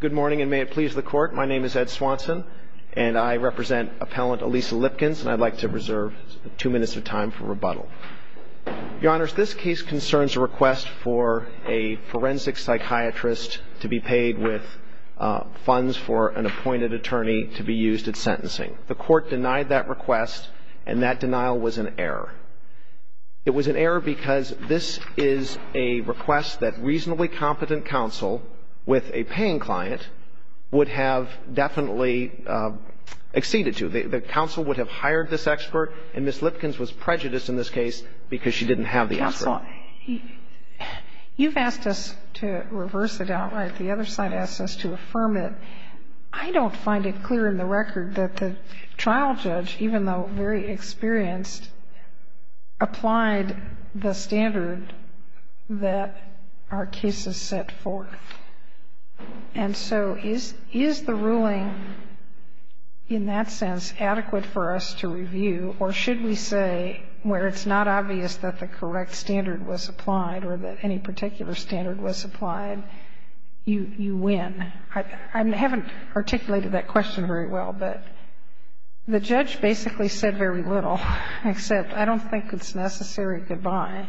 Good morning, and may it please the court. My name is Ed Swanson, and I represent appellant Elisa Lipkins, and I'd like to reserve two minutes of time for rebuttal. Your Honor, this case concerns a request for a forensic psychiatrist to be paid with funds for an appointed attorney to be used at sentencing. The court denied that request, and that denial was an error. It was an error because this is a very competent counsel with a paying client would have definitely acceded to. The counsel would have hired this expert, and Ms. Lipkins was prejudiced in this case because she didn't have the expert. Counsel, you've asked us to reverse it outright. The other side asked us to affirm it. I don't find it clear in the record that the trial judge, even though very experienced, applied the standard that our cases set forth. And so is the ruling in that sense adequate for us to review, or should we say where it's not obvious that the correct standard was applied or that any particular standard was applied, you win? I haven't articulated that question very well, but the judge basically said very little, except I don't think it's necessary to buy,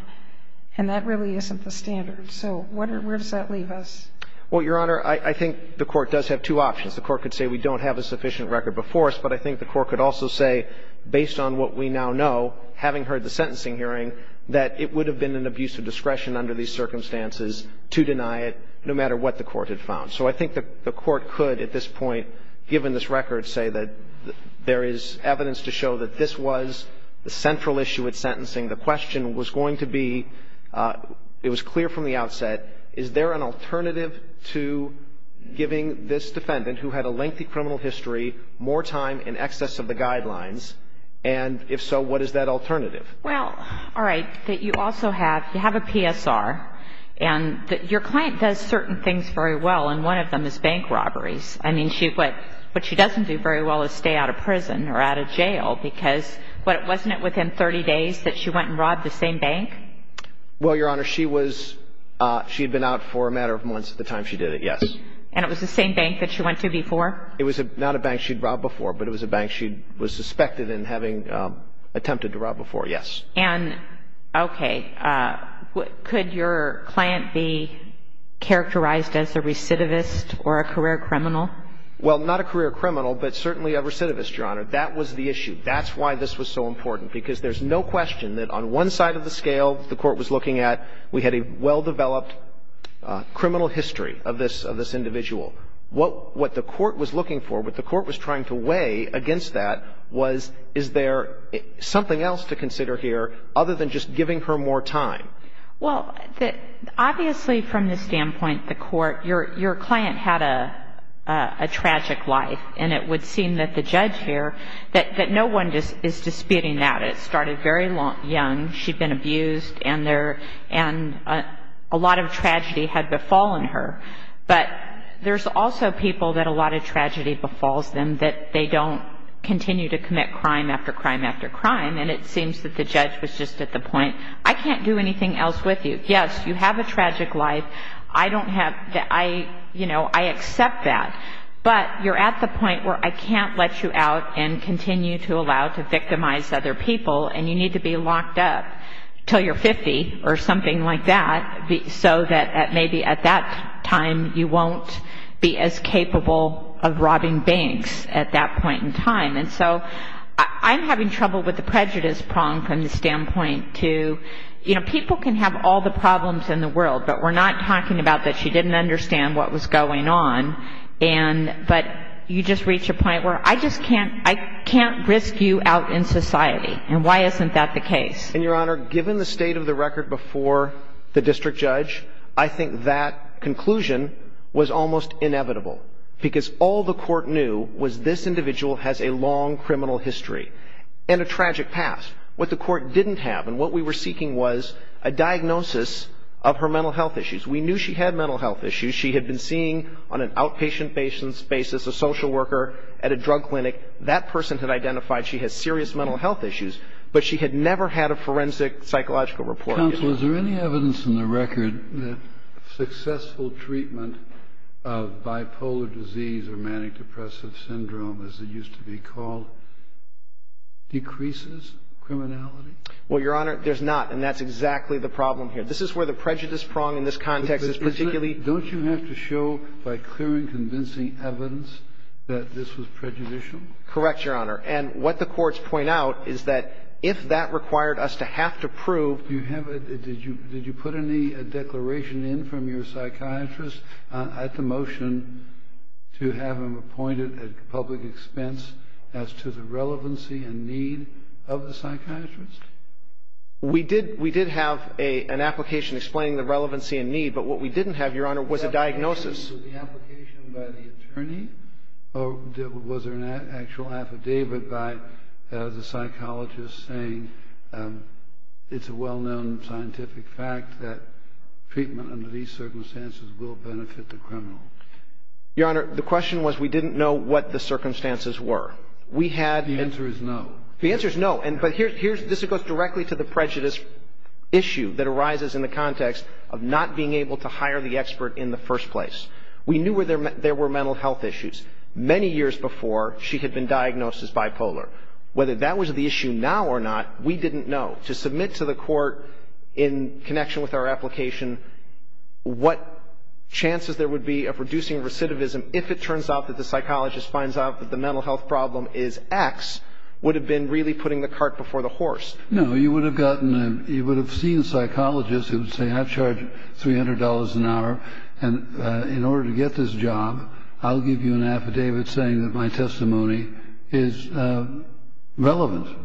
and that really isn't the standard. So where does that leave us? Well, Your Honor, I think the court does have two options. The court could say we don't have a sufficient record before us, but I think the court could also say, based on what we now know, having heard the sentencing hearing, that it would have been an abuse of discretion under these circumstances to deny it, no matter what the court had found. So I think the court could, at this point, begin to consider the central issue with sentencing. The question was going to be, it was clear from the outset, is there an alternative to giving this defendant who had a lengthy criminal history more time in excess of the guidelines, and if so, what is that alternative? Well, all right. You have a PSR, and your client does certain things very well, and one of them is bank robberies. What she doesn't do very well is stay out of prison or out of jail because, wasn't it within 30 days that she went and robbed the same bank? Well, Your Honor, she was, she had been out for a matter of months at the time she did it, yes. And it was the same bank that she went to before? It was not a bank she'd robbed before, but it was a bank she was suspected in having attempted to rob before, yes. And, okay, could your client be characterized as a recidivist or a career criminal? Well, not a career criminal, but certainly a recidivist, Your Honor. That was the issue. That's why this was so important, because there's no question that on one side of the scale the Court was looking at, we had a well-developed criminal history of this individual. What the Court was looking for, what the Court was trying to weigh against that was, is there something else to consider here other than just giving her more time? Well, obviously from the standpoint of the Court, your client had a tragic life, and it would seem that the judge here, that no one is disputing that. It started very young. She'd been abused, and a lot of tragedy had befallen her. But there's also people that a lot of tragedy befalls them, that they don't continue to commit crime after crime after crime. And it seems that the judge was just at the point, I can't do anything else with you. Yes, you have a I can't let you out and continue to allow to victimize other people, and you need to be locked up until you're 50, or something like that, so that maybe at that time you won't be as capable of robbing banks at that point in time. And so I'm having trouble with the prejudice prong from the standpoint to, you know, people can have all the problems in the world, but we're not talking about that she didn't understand what was going on, but you just reach a point where I just can't, I can't risk you out in society, and why isn't that the case? And Your Honor, given the state of the record before the district judge, I think that conclusion was almost inevitable, because all the court knew was this individual has a long criminal history and a tragic past. What the court didn't have, and what we were seeking, was a diagnosis of her mental health issues. We knew she had mental health issues. She had been seeing on an outpatient basis, a social worker at a drug clinic. That person had identified she had serious mental health issues, but she had never had a forensic psychological report on it. Counsel, is there any evidence in the record that successful treatment of bipolar disease or manic depressive syndrome, as it used to be called, decreases criminality? Well, Your Honor, there's not, and that's exactly the problem here. This is where the prejudice prong in this context is particularly... By clearing, convincing evidence that this was prejudicial? Correct, Your Honor, and what the courts point out is that if that required us to have to prove... Did you put any declaration in from your psychiatrist at the motion to have him appointed at public expense as to the relevancy and need of the psychiatrist? We did have an application explaining the relevancy and need, but what we didn't have, Your Honor, was a diagnosis. Was there an application by the attorney, or was there an actual affidavit by the psychologist saying it's a well-known scientific fact that treatment under these circumstances will benefit the criminal? Your Honor, the question was we didn't know what the circumstances were. We had... The answer is no. The answer is no, but this goes directly to the prejudice issue that arises in the context of not being able to hire the expert in the first place. We knew there were mental health issues many years before she had been diagnosed as bipolar. Whether that was the issue now or not, we didn't know. To submit to the court in connection with our application what chances there would be of reducing recidivism if it turns out that the psychologist finds out that the mental health problem is X would have been really putting the cart before the horse. No, you would have gotten a... You would have seen a psychologist who would say, I've charged $300 an hour, and in order to get this job, I'll give you an affidavit saying that my testimony is relevant.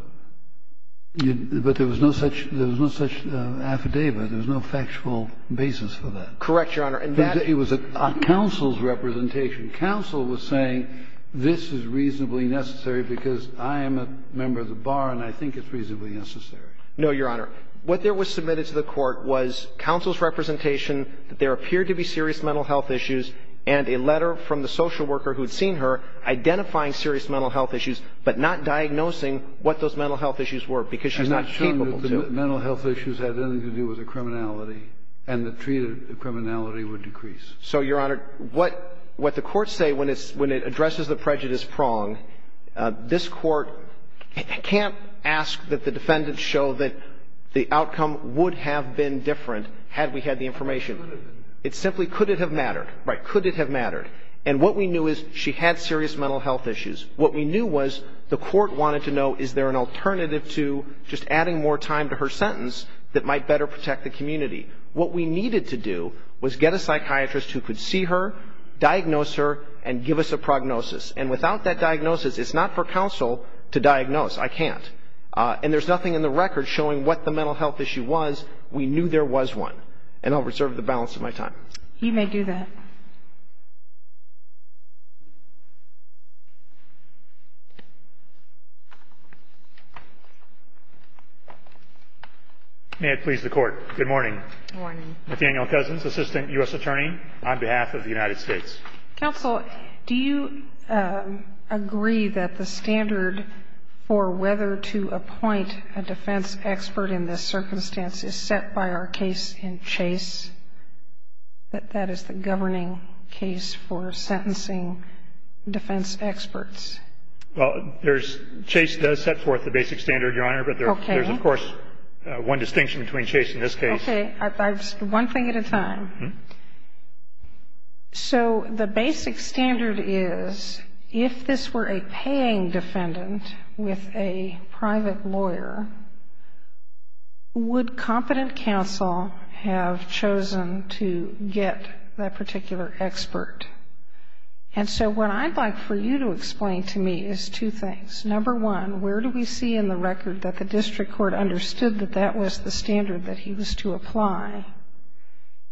But there was no such affidavit. There was no factual basis for that. Correct, Your Honor, and that... It was a counsel's representation. Counsel was saying, this is reasonably necessary because I am a member of the No, Your Honor. What there was submitted to the court was counsel's representation, that there appeared to be serious mental health issues, and a letter from the social worker who had seen her identifying serious mental health issues, but not diagnosing what those mental health issues were because she's not capable to. I'm not sure that the mental health issues had anything to do with the criminality and the treated criminality would decrease. So, Your Honor, what the courts say when it addresses the prejudice prong, this is not to ask that the defendants show that the outcome would have been different had we had the information. It's simply, could it have mattered? Right, could it have mattered? And what we knew is she had serious mental health issues. What we knew was the court wanted to know, is there an alternative to just adding more time to her sentence that might better protect the community? What we needed to do was get a psychiatrist who could see her, diagnose her, and give us a prognosis. And without that diagnosis, it's not for counsel to diagnose. I can't. And there's nothing in the record showing what the mental health issue was. We knew there was one. And I'll reserve the balance of my time. You may do that. May it please the Court. Good morning. Good morning. Nathaniel Cousins, Assistant U.S. Attorney on behalf of the United States. Counsel, do you agree that the standard for whether to appoint a defense expert in this circumstance is set by our case in Chase, that that is the governing case for sentencing defense experts? Well, there's, Chase does set forth the basic standard, Your Honor. Okay. But there's, of course, one distinction between Chase and this case. Okay. One thing at a time. So the basic standard is, if this were a paying defendant with a private lawyer, would competent counsel have chosen to get that particular expert? And so what I'd like for you to explain to me is two things. Number one, where do we see in the record that the district court understood that that was the standard that he was to apply?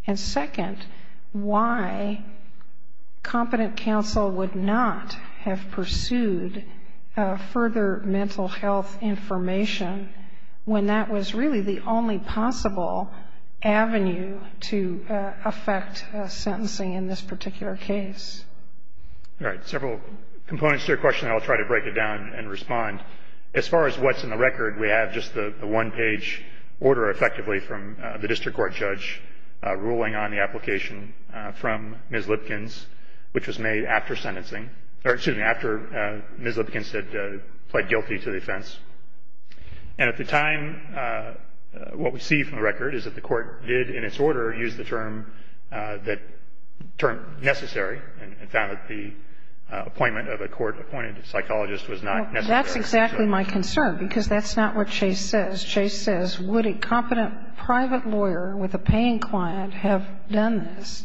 And second, why competent counsel would not have pursued further mental health information when that was really the only possible avenue to affect sentencing in this particular case? All right. Several components to your question. I'll try to break it down and respond. As far as what's in the record, we have just the one-page order, effectively, from the district court judge ruling on the application from Ms. Lipkins, which was made after sentencing. Or, excuse me, after Ms. Lipkins had pled guilty to the offense. And at the time, what we see from the record is that the court did, in its order, use the term that turned necessary and found that the appointment of a court-appointed psychologist was not necessary. Well, that's exactly my concern, because that's not what Chase says. Would a competent private lawyer with a paying client have done this?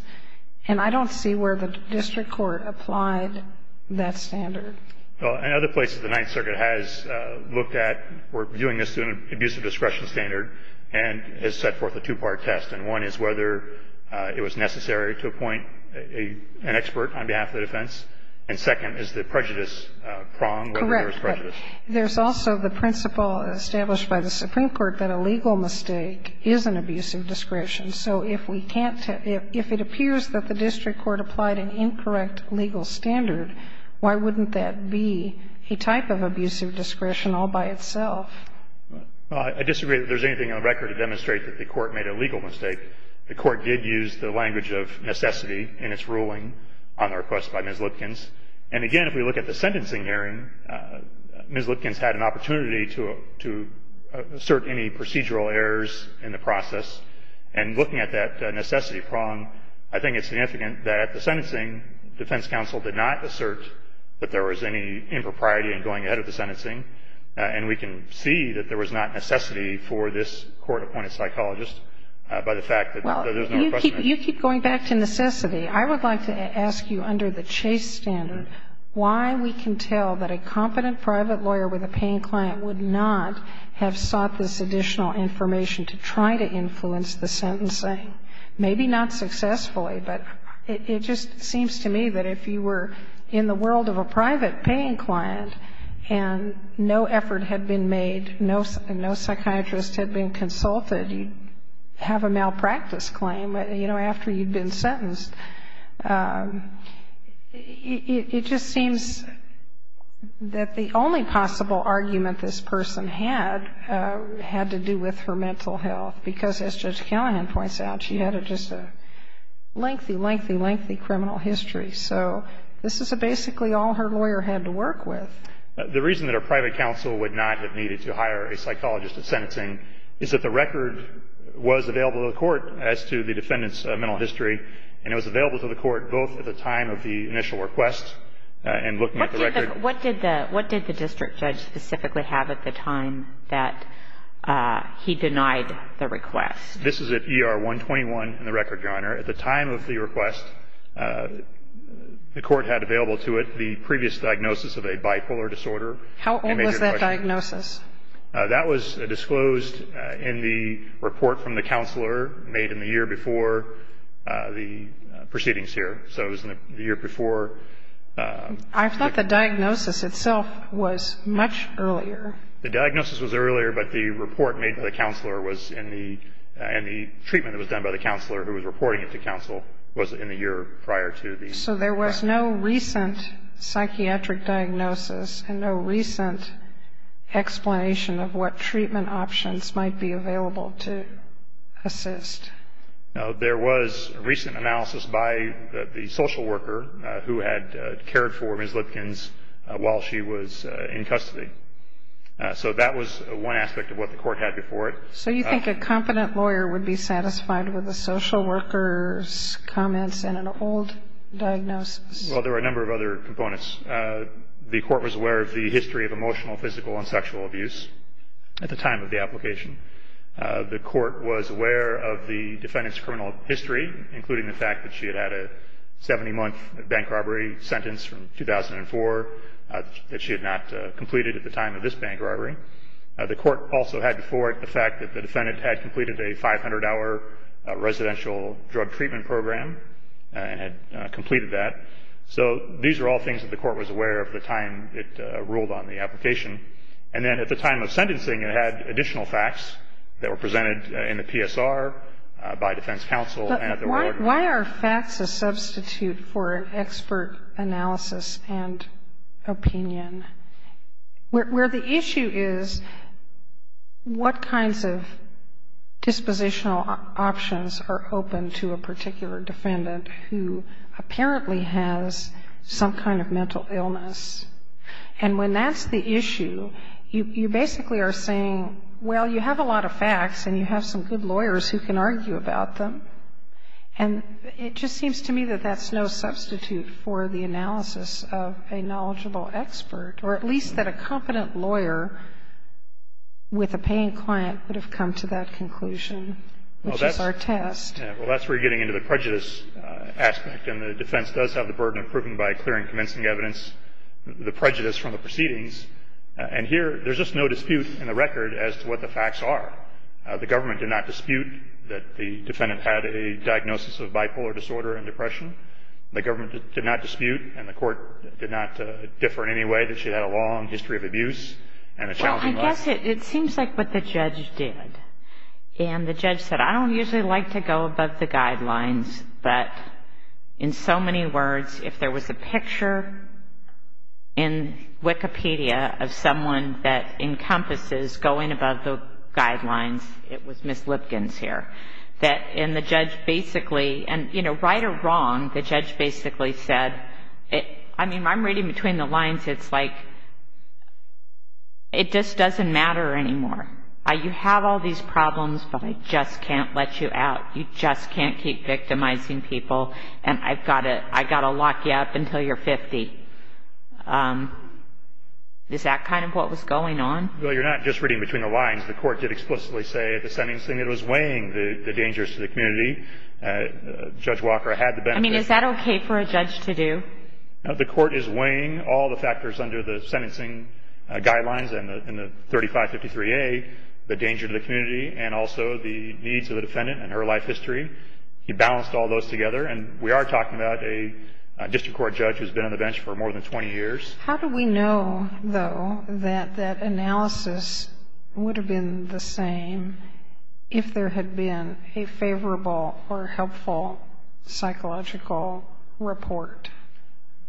And I don't see where the district court applied that standard. Well, in other places, the Ninth Circuit has looked at, or viewing this as an abusive discretion standard, and has set forth a two-part test. And one is whether it was necessary to appoint an expert on behalf of the defense. And second is the prejudice prong, whether there was prejudice. Correct. There's also the principle established by the Supreme Court that a legal mistake is an abusive discretion. So if it appears that the district court applied an incorrect legal standard, why wouldn't that be a type of abusive discretion all by itself? Well, I disagree that there's anything on the record to demonstrate that the court made a legal mistake. The court did use the language of necessity in its ruling on the request by Ms. Lipkins. And, again, if we look at the sentencing hearing, Ms. Lipkins had an opportunity to assert any procedural errors in the process. And looking at that necessity prong, I think it's significant that the sentencing defense counsel did not assert that there was any impropriety in going ahead of the sentencing. And we can see that there was not necessity for this court-appointed psychologist by the fact that there's no question. Well, you keep going back to necessity. I would like to ask you under the Chase standard why we can tell that a competent private lawyer with a paying client would not have sought this additional information to try to influence the sentencing. Maybe not successfully, but it just seems to me that if you were in the world of a private paying client and no effort had been made, no psychiatrist had been consulted, you'd have a malpractice claim, you know, after you'd been sentenced. It just seems that the only possible argument this person had had to do with her mental health, because as Judge Callahan points out, she had just a lengthy, lengthy, lengthy criminal history. So this is basically all her lawyer had to work with. The reason that a private counsel would not have needed to hire a psychologist at sentencing is that the record was available to the court as to the defendant's mental history, and it was available to the court both at the time of the initial request and looking at the record. What did the district judge specifically have at the time that he denied the request? This is at ER 121 in the record, Your Honor. At the time of the request, the court had available to it the previous diagnosis of a bipolar disorder. How old was that diagnosis? That was disclosed in the report from the counselor made in the year before the proceedings here. So it was in the year before. I thought the diagnosis itself was much earlier. The diagnosis was earlier, but the report made by the counselor was in the ‑‑ and the treatment that was done by the counselor who was reporting it to counsel was in the year prior to the request. Okay. So there was no recent psychiatric diagnosis and no recent explanation of what treatment options might be available to assist. No. There was a recent analysis by the social worker who had cared for Ms. Lipkins while she was in custody. So that was one aspect of what the court had before it. So you think a competent lawyer would be satisfied with the social worker's old diagnosis? Well, there were a number of other components. The court was aware of the history of emotional, physical and sexual abuse at the time of the application. The court was aware of the defendant's criminal history, including the fact that she had had a 70‑month bank robbery sentence from 2004 that she had not completed at the time of this bank robbery. The court also had before it the fact that the defendant had completed a 500‑hour residential drug treatment program and had completed that. So these are all things that the court was aware of at the time it ruled on the application. And then at the time of sentencing, it had additional facts that were presented in the PSR by defense counsel and at the warden. But why are facts a substitute for expert analysis and opinion, where the issue is what kinds of dispositional options are open to a particular defendant who apparently has some kind of mental illness? And when that's the issue, you basically are saying, well, you have a lot of facts and you have some good lawyers who can argue about them. And it just seems to me that that's no substitute for the analysis of a knowledgeable expert, or at least that a competent lawyer with a paying client would have come to that conclusion, which is our test. Well, that's where you're getting into the prejudice aspect. And the defense does have the burden of proving by clearing commencing evidence the prejudice from the proceedings. And here there's just no dispute in the record as to what the facts are. The government did not dispute that the defendant had a diagnosis of bipolar disorder and depression. The government did not dispute and the court did not differ in any way that she had a long history of abuse and a challenging life. Well, I guess it seems like what the judge did. And the judge said, I don't usually like to go above the guidelines, but in so many words, if there was a picture in Wikipedia of someone that encompasses going above the guidelines, it was Ms. Lipkins here. And the judge basically, and right or wrong, the judge basically said, I mean, I'm reading between the lines. It's like it just doesn't matter anymore. You have all these problems, but I just can't let you out. You just can't keep victimizing people, and I've got to lock you up until you're 50. Is that kind of what was going on? Well, you're not just reading between the lines. The court did explicitly say at the sentencing it was weighing the dangers to the community. Judge Walker had the benefit. I mean, is that okay for a judge to do? The court is weighing all the factors under the sentencing guidelines and the 3553A, the danger to the community and also the needs of the defendant and her life history. He balanced all those together, and we are talking about a district court judge who's been on the bench for more than 20 years. How do we know, though, that that analysis would have been the same if there had been a favorable or helpful psychological report?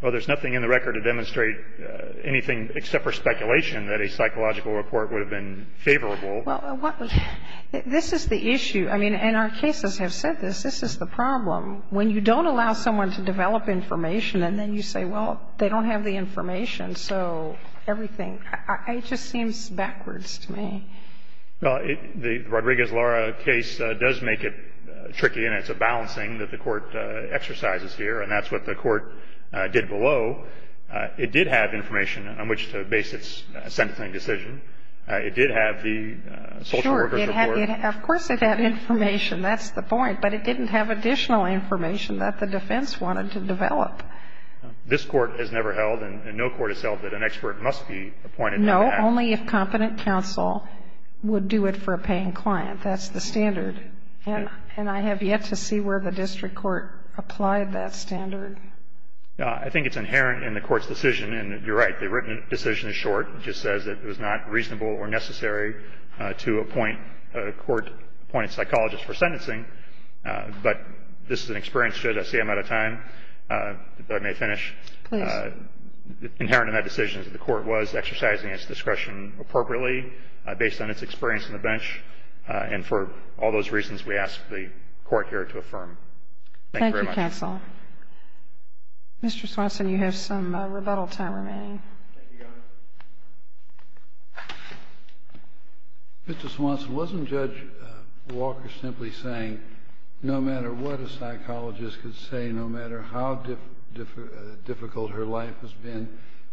Well, there's nothing in the record to demonstrate anything except for speculation that a psychological report would have been favorable. Well, this is the issue. I mean, and our cases have said this. This is the problem. When you don't allow someone to develop information and then you say, well, they don't have the information, so everything. It just seems backwards to me. Well, the Rodriguez-Lara case does make it tricky, and it's a balancing that the court exercises here, and that's what the court did below. It did have information on which to base its sentencing decision. It did have the social worker's report. Sure. Of course it had information. That's the point. But it didn't have additional information that the defense wanted to develop. This Court has never held, and no court has held, that an expert must be appointed to act. No, only if competent counsel would do it for a paying client. That's the standard. And I have yet to see where the district court applied that standard. I think it's inherent in the Court's decision, and you're right. The written decision is short. It just says that it was not reasonable or necessary to appoint a court-appointed psychologist for sentencing. But this is an experience. Should I say I'm out of time? If I may finish. Please. Inherent in that decision is that the court was exercising its discretion appropriately based on its experience on the bench, and for all those reasons, we ask the court here to affirm. Thank you very much. Thank you, counsel. Mr. Swanson, you have some rebuttal time remaining. Thank you, Your Honor. Mr. Swanson, wasn't Judge Walker simply saying no matter what a psychologist could say, no matter how difficult her life has been,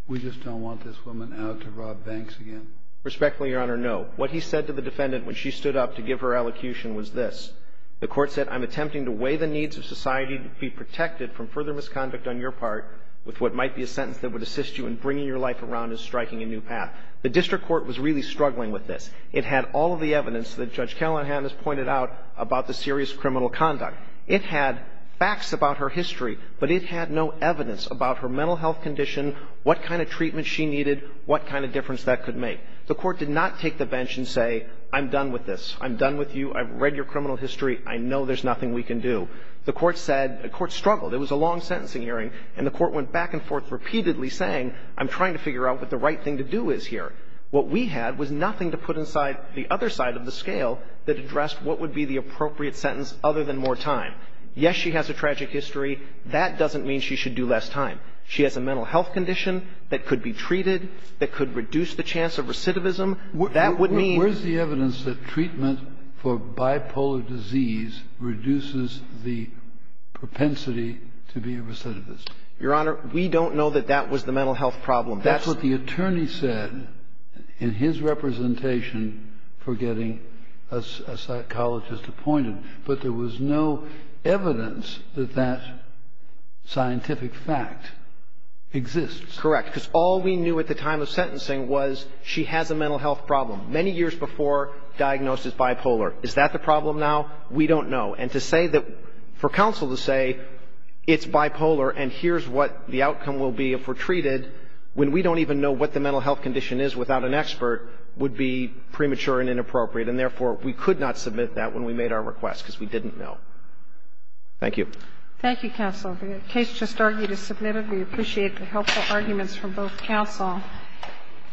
we just don't want this woman out to rob banks again? Respectfully, Your Honor, no. What he said to the defendant when she stood up to give her elocution was this. The court said, I'm attempting to weigh the needs of society to be protected from further misconduct on your part with what might be a sentence that would assist you in bringing your life around and striking a new path. The district court was really struggling with this. It had all of the evidence that Judge Callahan has pointed out about the serious criminal conduct. It had facts about her history, but it had no evidence about her mental health condition, what kind of treatment she needed, what kind of difference that could make. The court did not take the bench and say, I'm done with this. I'm done with you. I've read your criminal history. I know there's nothing we can do. The court said the court struggled. It was a long sentencing hearing, and the court went back and forth repeatedly saying, I'm trying to figure out what the right thing to do is here. What we had was nothing to put inside the other side of the scale that addressed what would be the appropriate sentence other than more time. Yes, she has a tragic history. That doesn't mean she should do less time. She has a mental health condition that could be treated, that could reduce the chance of recidivism. That would mean ---- Where's the evidence that treatment for bipolar disease reduces the propensity to be a recidivist? Your Honor, we don't know that that was the mental health problem. That's what the attorney said in his representation for getting a psychologist appointed. But there was no evidence that that scientific fact exists. Correct. Because all we knew at the time of sentencing was she has a mental health problem. Many years before, diagnosed as bipolar. Is that the problem now? We don't know. And to say that ---- for counsel to say it's bipolar and here's what the outcome will be if we're treated when we don't even know what the mental health condition is without an expert would be premature and inappropriate. And, therefore, we could not submit that when we made our request because we didn't know. Thank you. Thank you, counsel. The case just argued is submitted. We appreciate the helpful arguments from both counsel.